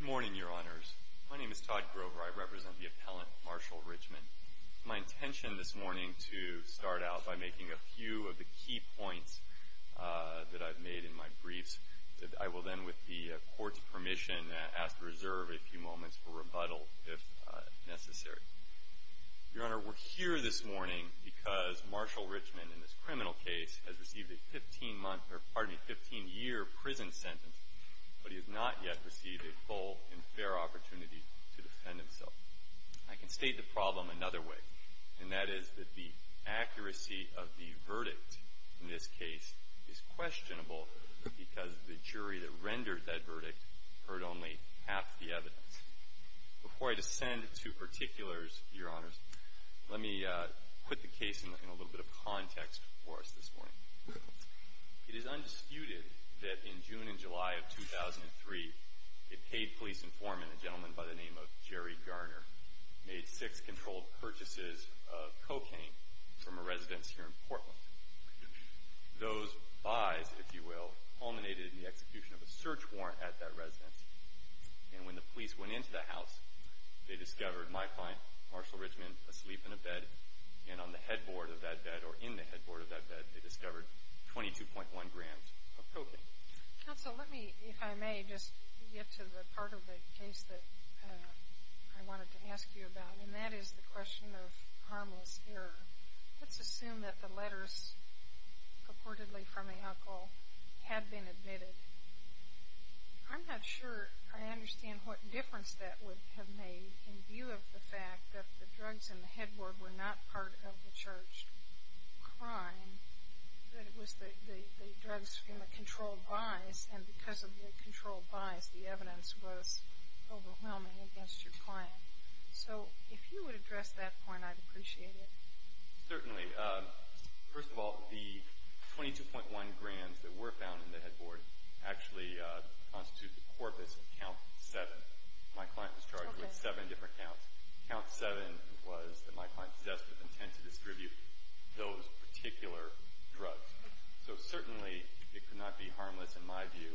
Good morning, Your Honors. My name is Todd Grover. I represent the appellant, Marshall Richmond. It's my intention this morning to start out by making a few of the key points that I've made in my briefs that I will then, with the court's permission, ask to reserve a few moments for rebuttal if necessary. Your Honor, we're here this morning because Marshall Richmond, in this criminal case, has received a 15-month, or pardon me, 15-year prison sentence, but he has not yet received a full and fair opportunity to defend himself. I can state the problem another way, and that is that the accuracy of the verdict in this case is questionable because the jury that rendered that verdict heard only half the evidence. Before I descend to particulars, Your Honors, let me put the case in a little bit of context for us this morning. It is undisputed that in June and July of 2003, a paid police informant, a gentleman by the name of Jerry Garner, made six controlled purchases of cocaine from a residence here in Portland. Those buys, if you will, culminated in the execution of a search warrant at that residence, and when the police went into the house, they discovered my client, Marshall Richmond, asleep in a bed, and on the headboard of that bed, or in the bedroom. If I may, just to get to the part of the case that I wanted to ask you about, and that is the question of harmless error. Let's assume that the letters purportedly from the alcohol had been admitted. I'm not sure I understand what difference that would have made in view of the fact that the drugs in the headboard were not part of the charged crime, that it was the drugs from the controlled buys, and because of the controlled buys, the evidence was overwhelming against your client. So, if you would address that point, I'd appreciate it. Certainly. First of all, the 22.1 grams that were found in the headboard actually constitute the corpus of count seven. My client was charged with seven different counts. Count seven was that my client possessed with intent to not be harmless, in my view,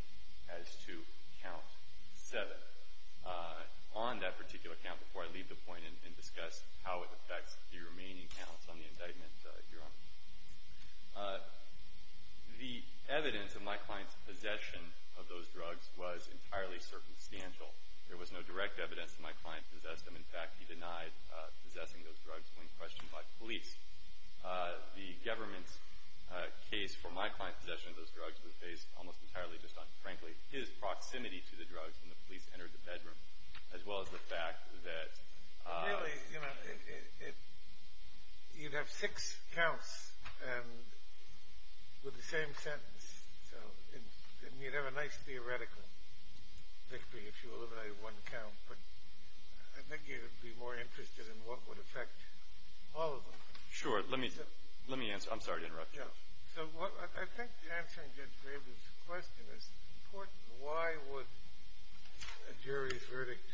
as to count seven. On that particular count, before I leave the point and discuss how it affects the remaining counts on the indictment, Your Honor, the evidence of my client's possession of those drugs was entirely circumstantial. There was no direct evidence that my client possessed them. In fact, he denied possessing those drugs when questioned by police. The government's case for my client's possession of those drugs was based almost entirely just on, frankly, his proximity to the drugs when the police entered the bedroom, as well as the fact that... Really, you'd have six counts with the same sentence, so you'd have a nice theoretical victory if you eliminated one count, but I think you'd be more interested in what would affect all of them. Sure. Let me answer. I'm sorry to interrupt you. I think answering Judge Graber's question is important. Why would a jury's verdict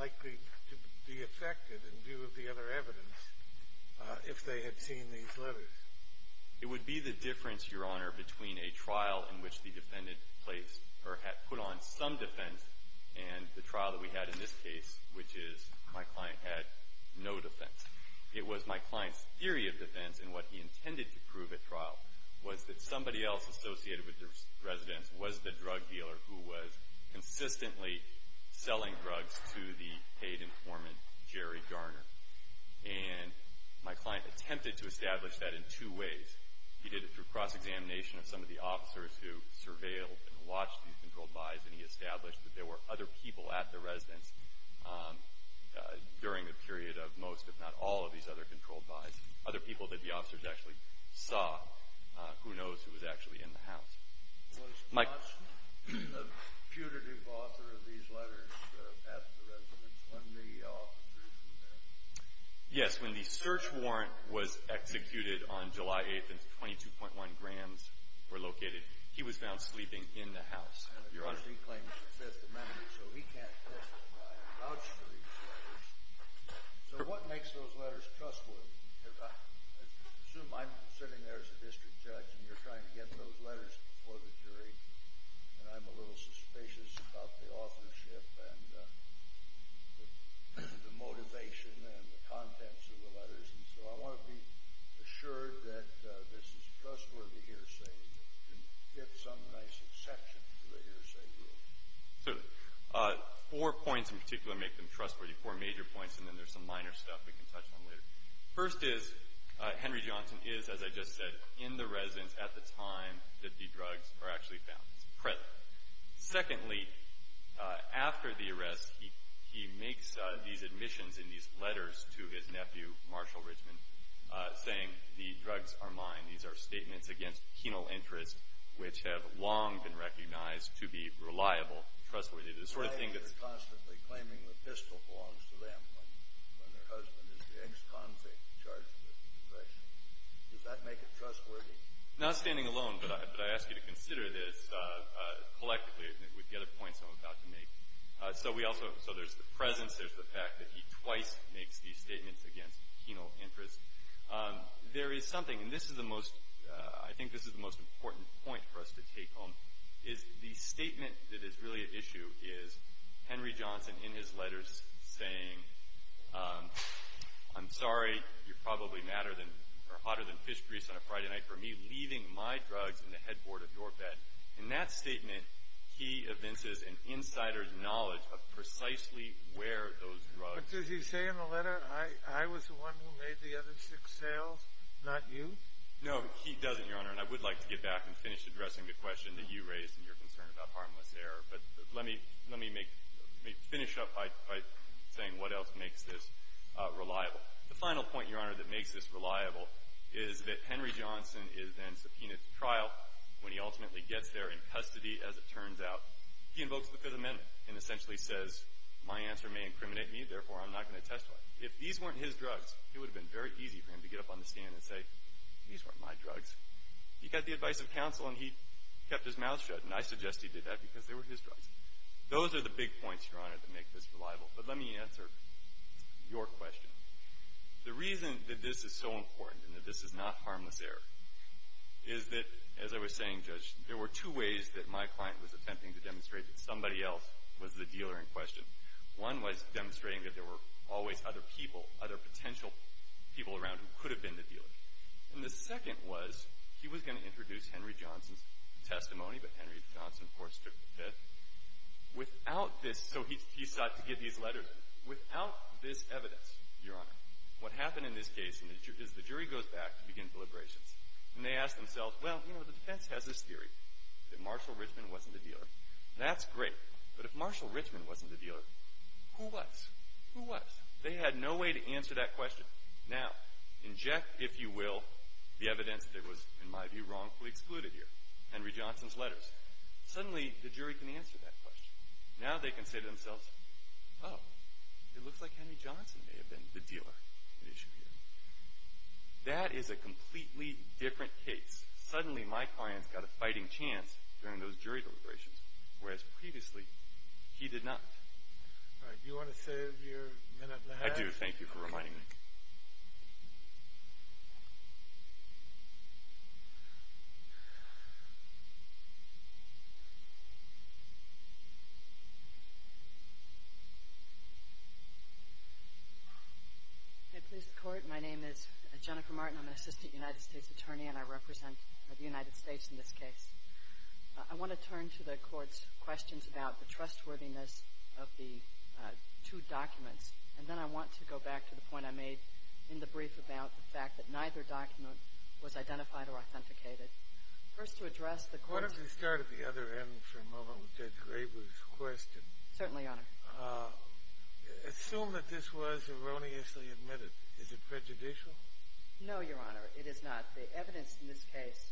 likely to be affected in view of the other evidence if they had seen these letters? It would be the difference, Your Honor, between a trial in which the defendant placed or had put on some defense and the trial that we had in this case, which is my client had no defense. It was my client's theory of defense and what he intended to prove at trial was that somebody else associated with the residence was the drug dealer who was consistently selling drugs to the paid informant, Jerry Garner. And my client attempted to establish that in two ways. He did it through cross-examination of some of the officers who surveilled and watched these during the period of most, if not all, of these other controlled buys, other people that the officers actually saw, who knows who was actually in the house. Was Judge the putative author of these letters at the residence when the officers were there? Yes. When the search warrant was executed on July 8th and 22.1 grams were located, he was found sleeping in the house, Your Honor. Because he claims the Fifth Amendment, so he can't vouch for these letters. So what makes those letters trustworthy? I assume I'm sitting there as a district judge and you're trying to get those letters before the jury, and I'm a little suspicious about the authorship and the motivation and the contents of the letters. And so I want to be assured that this is a trustworthy hearsay. Get some nice exception to the hearsay rule. Certainly. Four points in particular make them trustworthy, four major points, and then there's some minor stuff we can touch on later. First is, Henry Johnson is, as I just said, in the residence at the time that the drugs were actually found. It's present. Secondly, after the arrest, he makes these admissions in these letters to his nephew, Marshal Richmond, saying the drugs are mine. These are statements against penal interest which have long been recognized to be reliable, trustworthy, the sort of thing that's- Reliable, they're constantly claiming the pistol belongs to them when their husband is the ex-convict in charge of the depression. Does that make it trustworthy? Not standing alone, but I ask you to consider this collectively with the other points I'm about to make. So there's the presence, there's the fact that he twice makes these statements against penal interest. There is something, and I think this is the most important point for us to take home, is the statement that is really at issue is Henry Johnson in his letters saying, I'm sorry, you're probably hotter than fish grease on a Friday night for me leaving my drugs in the headboard of your bed. In that statement, he evinces an insider's knowledge of precisely where those drugs- But does he say in the letter, I was the one who made the other six sales, not you? No, he doesn't, Your Honor, and I would like to get back and finish addressing the question that you raised in your concern about harmless error. But let me finish up by saying what else makes this reliable. The final point, Your Honor, that makes this reliable is that Henry Johnson is then subpoenaed at trial when he ultimately gets there in custody, as it turns out. He invokes the Fifth Amendment and essentially says, my answer may incriminate me, therefore I'm not going to testify. If these weren't his drugs, it would have been very easy for him to get up on the stand and say, these weren't my drugs. He got the advice of counsel and he kept his mouth shut, and I suggest he did that because they were his drugs. Those are the big points, Your Honor, that make this reliable. But let me answer your question. The reason that this is so important and that this is not harmless error is that, as I was saying, Judge, there were two ways that my client was attempting to demonstrate that somebody else was the dealer in question. One was demonstrating that there were always other people, other potential people around who could have been the dealer. And the second was he was going to introduce Henry Johnson's testimony, but Henry Johnson, of course, without this, so he sought to give these letters, without this evidence, Your Honor, what happened in this case is the jury goes back to begin deliberations and they ask themselves, well, you know, the defense has this theory that Marshall Richmond wasn't the dealer. That's great, but if Marshall Richmond wasn't the dealer, who was? Who was? They had no way to answer that question. Now, inject, if you will, the evidence that was, in my view, wrongfully excluded here, Henry Johnson's letters. Suddenly the jury can answer that question. Now they can say to themselves, oh, it looks like Henry Johnson may have been the dealer at issue here. That is a completely different case. Suddenly my client's got a fighting chance during those jury deliberations, whereas previously he did not. All right. Do you want to save your minute and a half? I do. Thank you for reminding me. Thank you. May it please the Court, my name is Jennifer Martin. I'm an assistant United States attorney, and I represent the United States in this case. I want to turn to the Court's questions about the trustworthiness of the two documents, and then I want to go back to the point I made in the brief about the fact that neither document was identified or authenticated. First, to address the Court's question. Why don't we start at the other end for a moment with Judge Graber's question? Certainly, Your Honor. Assume that this was erroneously admitted. Is it prejudicial? No, Your Honor, it is not. The evidence in this case,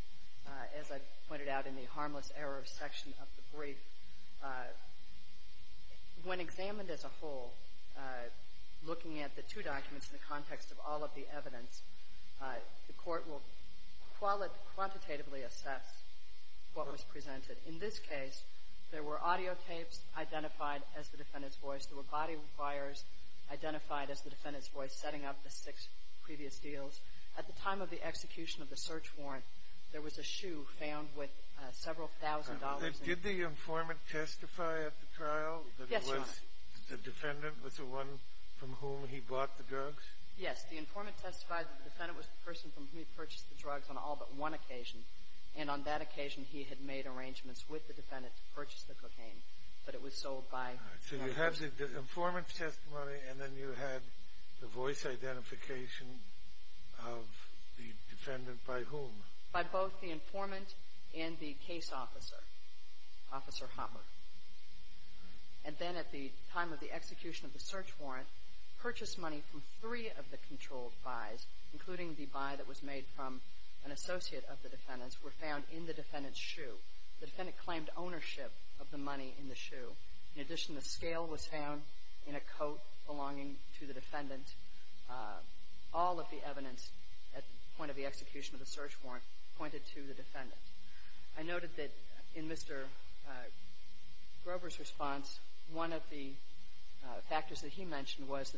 as I pointed out in the harmless error section of the brief, when examined as a whole, looking at the two documents in the context of all of the evidence, the Court will qualitatively assess what was presented. In this case, there were audio tapes identified as the defendant's voice. There were body wires identified as the defendant's voice, setting up the six previous deals. At the time of the execution of the search warrant, there was a shoe found with several thousand dollars in it. Did the informant testify at the trial? Yes, Your Honor. The defendant was the one from whom he bought the drugs? Yes. The informant testified that the defendant was the person from whom he purchased the drugs on all but one occasion. And on that occasion, he had made arrangements with the defendant to purchase the cocaine. But it was sold by... So you have the informant's testimony, and then you have the voice identification of the defendant by whom? By both the informant and the case officer, Officer Hopper. And then at the time of the execution of the search warrant, purchased money from three of the controlled buys, including the buy that was made from an associate of the defendant's, were found in the defendant's shoe. The defendant claimed ownership of the money in the shoe. In addition, the scale was found in a coat belonging to the defendant. All of the evidence at the point of the execution of the search warrant pointed to the defendant. I noted that in Mr. Grover's response, one of the factors that he mentioned was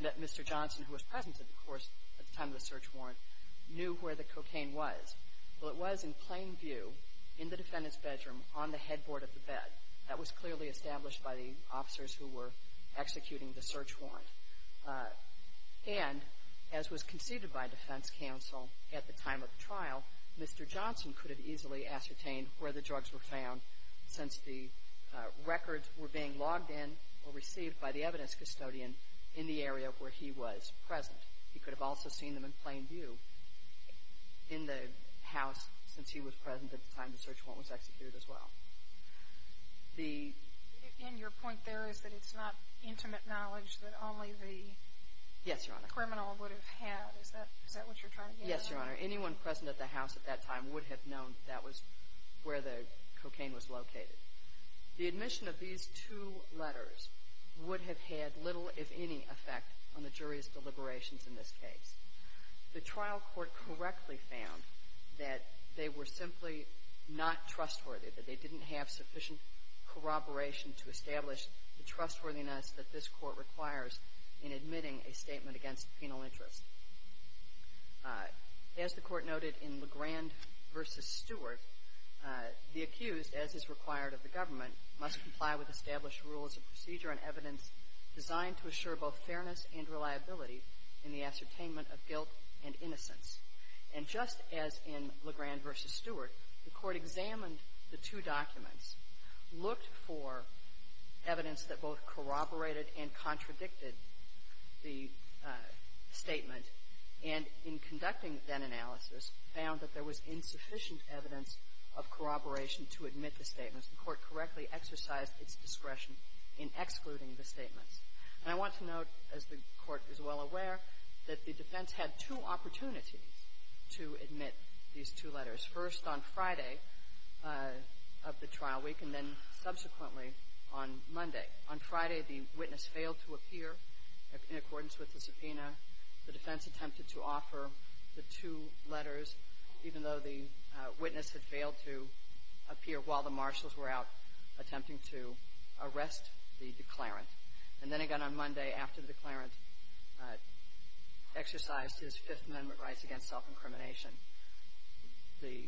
that Mr. Johnson, who was present at the time of the search warrant, knew where the cocaine was. Well, it was, in plain view, in the defendant's bedroom on the headboard of the bed. That was clearly established by the officers who were executing the search warrant. And as was conceded by defense counsel at the time of the trial, Mr. Johnson could have easily ascertained where the drugs were found since the records were being logged in or received by the evidence custodian in the area where he was present. He could have also seen them in plain view in the house since he was present at the time the search warrant was executed as well. The... And your point there is that it's not intimate knowledge that only the... Yes, Your Honor. ...criminal would have had. Is that what you're trying to get at? Yes, Your Honor. Anyone present at the house at that time would have known that was where the cocaine was located. The admission of these two letters would have had little, if any, effect on the jury's deliberations in this case. The trial court correctly found that they were simply not trustworthy, that they didn't have sufficient corroboration to establish the trustworthiness that this court requires in admitting a statement against penal interest. As the court noted in Legrand v. Stewart, the accused, as is required of the government, must comply with established rules of procedure and evidence designed to assure both fairness and reliability in the ascertainment of guilt and innocence. And just as in Legrand v. Stewart, the court examined the two documents, looked for evidence that both corroborated and contradicted the statement, and in conducting that analysis, found that there was insufficient evidence of corroboration to admit the statements. The court correctly exercised its discretion in excluding the statements. And I want to note, as the court is well aware, that the defense had two opportunities to admit these two letters. First on Friday of the trial week, and then subsequently on Monday. On Friday, the witness failed to appear in accordance with the subpoena. The defense attempted to offer the two letters, even though the witness had failed to appear while the marshals were out attempting to arrest the declarant. And then again on Monday, after the declarant exercised his Fifth Amendment rights against self-incrimination, the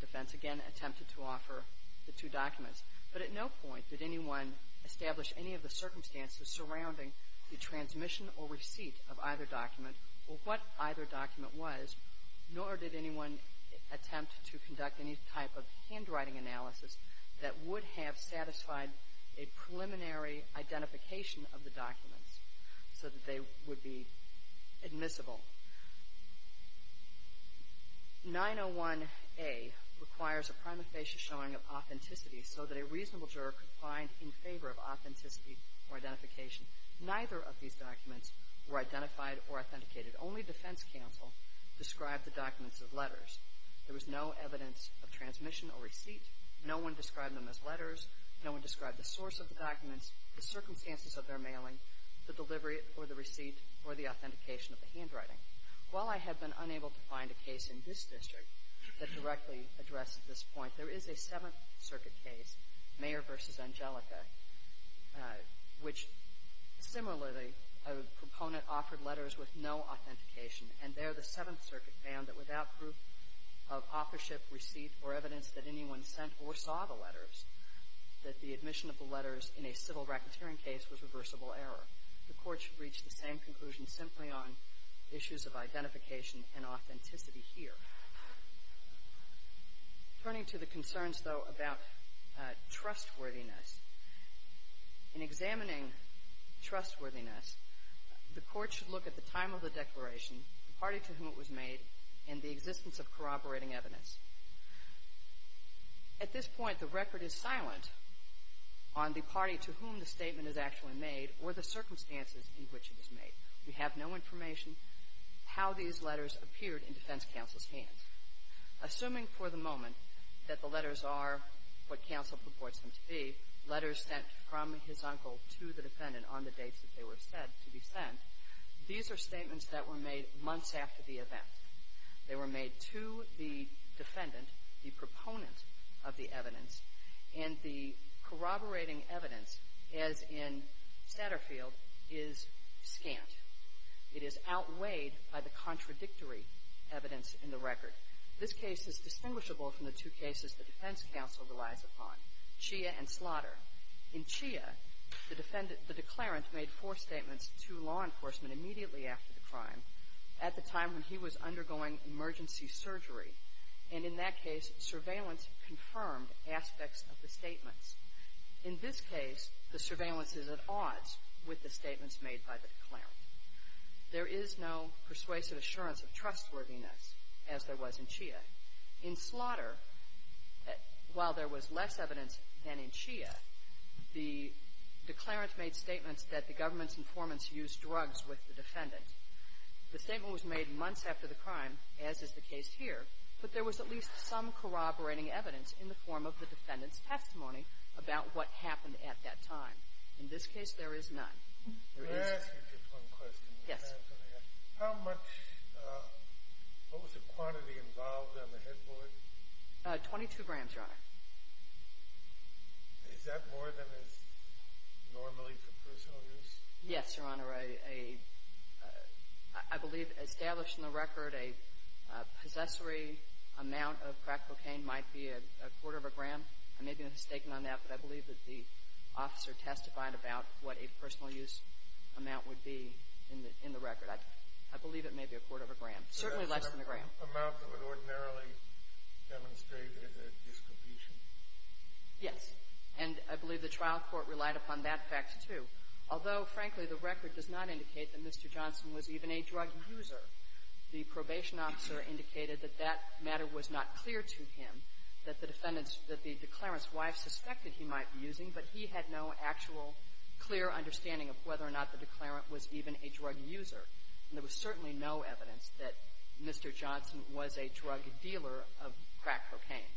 defense again attempted to offer the two documents. But at no point did anyone establish any of the circumstances surrounding the transmission or receipt of either document or what either document was, nor did anyone attempt to conduct any type of handwriting analysis that would have satisfied a preliminary identification of the documents, so that they would be admissible. 901A requires a prima facie showing of authenticity so that a reasonable juror could find in favor of authenticity or identification. Neither of these documents were identified or authenticated. Only defense counsel described the documents as letters. There was no evidence of transmission or receipt. No one described them as letters. No one described the source of the documents, the circumstances of their mailing, the delivery or the receipt or the authentication of the handwriting. While I have been unable to find a case in this district that directly addresses this point, there is a Seventh Circuit case, Mayer v. Angelica, which similarly a proponent offered letters with no authentication. And there the Seventh Circuit found that without proof of authorship, receipt, or evidence that anyone sent or saw the letters, that the admission of the letters in a civil racketeering case was reversible error. The Court should reach the same conclusion simply on issues of identification and authenticity here. Turning to the concerns, though, about trustworthiness, in examining trustworthiness, the Court should look at the time of the declaration, the party to whom it was made, and the existence of corroborating evidence. At this point, the record is silent on the party to whom the statement is actually made or the circumstances in which it was made. We have no information how these letters appeared in defense counsel's hands. Assuming for the moment that the letters are what counsel purports them to be, letters sent from his uncle to the defendant on the dates that they were said to be sent, these are statements that were made months after the event. They were made to the defendant, the proponent of the evidence, and the corroborating evidence, as in Satterfield, is scant. It is outweighed by the contradictory evidence in the record. This case is distinguishable from the two cases the defense counsel relies upon, Chia and Slaughter. In Chia, the defendant, the declarant, made four statements to law enforcement immediately after the crime. At the time when he was undergoing emergency surgery. And in that case, surveillance confirmed aspects of the statements. In this case, the surveillance is at odds with the statements made by the declarant. There is no persuasive assurance of trustworthiness, as there was in Chia. In Slaughter, while there was less evidence than in Chia, the declarant made statements that the government's informants used drugs with the defendant. The statement was made months after the crime, as is the case here, but there was at least some corroborating evidence in the form of the defendant's testimony about what happened at that time. In this case, there is none. Let me ask you just one question. Yes. How much, what was the quantity involved on the head bullet? Twenty-two grams, Your Honor. Is that more than is normally for personal use? Yes, Your Honor. I believe established in the record, a possessory amount of crack cocaine might be a quarter of a gram. I may be mistaken on that, but I believe that the officer testified about what a personal use amount would be in the record. I believe it may be a quarter of a gram, certainly less than a gram. Is that an amount that would ordinarily demonstrate a distribution? Yes. And I believe the trial court relied upon that fact, too. Although, frankly, the record does not indicate that Mr. Johnson was even a drug user, the probation officer indicated that that matter was not clear to him, that the defendant's, that the declarant's wife suspected he might be using, but he had no actual clear understanding of whether or not the declarant was even a drug user. And there was certainly no evidence that Mr. Johnson was a drug dealer of crack cocaine.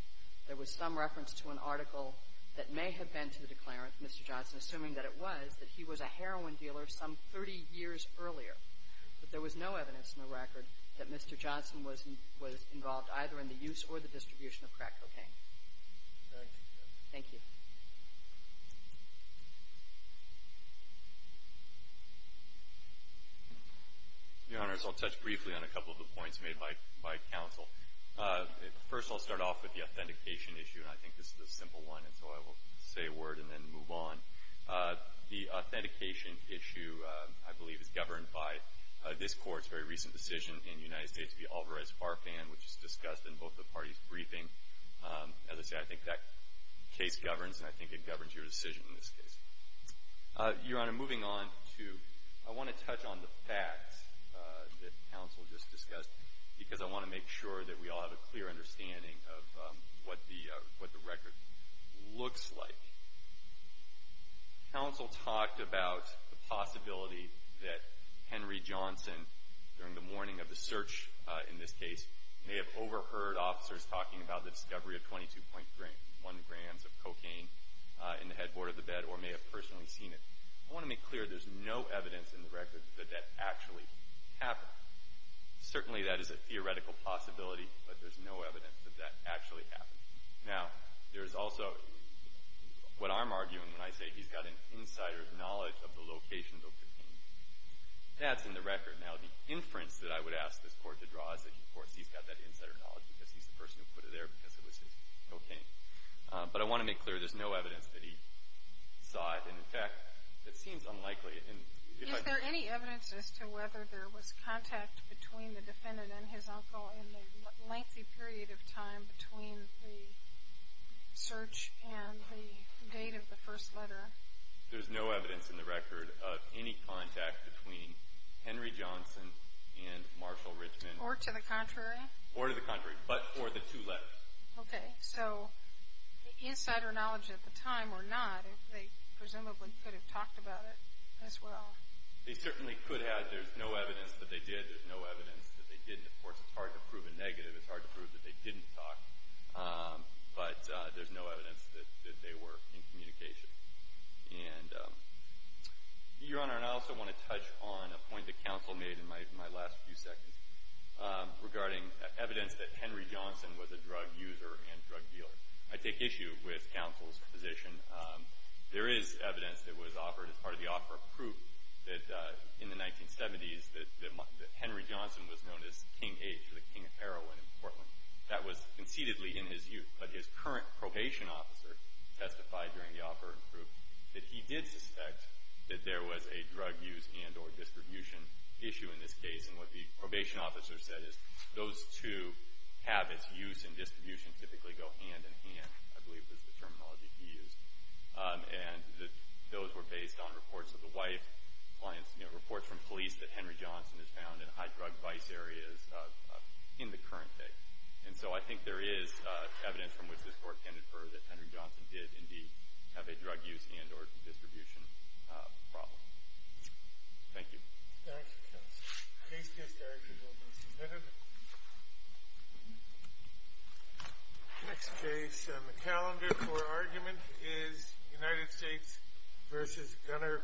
There was some reference to an article that may have been to the declarant, Mr. Johnson, assuming that it was, that he was a heroin dealer some 30 years earlier. But there was no evidence in the record that Mr. Johnson was involved either in the use or the distribution of crack cocaine. Thank you, Your Honor. Thank you. Your Honor, so I'll touch briefly on a couple of the points made by counsel. First, I'll start off with the authentication issue, and I think this is a simple one, and so I will say a word and then move on. The authentication issue, I believe, is governed by this Court's very recent decision in the United States to be Alvarez-Farfan, which is discussed in both the parties' briefing. As I say, I think that case governs, and I think it governs your decision in this case. Your Honor, moving on to, I want to touch on the facts that counsel just discussed because I want to make sure that we all have a clear understanding of what the record looks like. Counsel talked about the possibility that Henry Johnson, during the morning of the search in this case, may have overheard officers talking about the discovery of 22.1 grams of cocaine in the headboard of the bed or may have personally seen it. I want to make clear there's no evidence in the record that that actually happened. Certainly, that is a theoretical possibility, but there's no evidence that that actually happened. Now, there's also what I'm arguing when I say he's got an insider's knowledge of the location of the cocaine. That's in the record. Now, the inference that I would ask this Court to draw is that, of course, he's got that insider knowledge because he's the person who put it there because it was his cocaine. But I want to make clear there's no evidence that he saw it. And, in fact, it seems unlikely. And if I could... Is there any evidence as to whether there was contact between the defendant and his uncle in the lengthy period of time between the search and the date of the first letter? There's no evidence in the record of any contact between Henry Johnson and Marshall Richmond. Or to the contrary? Or to the contrary, but for the two letters. Okay. So the insider knowledge at the time or not, they presumably could have talked about it as well. They certainly could have. There's no evidence that they did. There's no evidence that they didn't. Of course, it's hard to prove a negative. It's hard to prove that they didn't talk. But there's no evidence that they were in communication. And, Your Honor, and I also want to touch on a point that counsel made in my last few seconds regarding evidence that Henry Johnson was a drug user and drug dealer. I take issue with counsel's position. There is evidence that was offered as part of the offer of proof that in the 1970s that Henry Johnson was known as King H or the King of Heroin in Portland. That was conceitedly in his youth. But his current probation officer testified during the offer of proof that he did suspect that there was a drug use and or distribution issue in this case. And what the probation officer said is those two habits, use and distribution, typically go hand in hand, I believe was the terminology he used. And those were based on reports of the wife, reports from police that Henry Johnson is found in high-drug vice areas in the current day. And so I think there is evidence from which this Court can infer that Henry Johnson did indeed have a drug use and or distribution problem. Thank you. Thank you, counsel. The case is directed to Mr. Kennedy. Next case on the calendar for argument is United States v. Gunnar Krapser.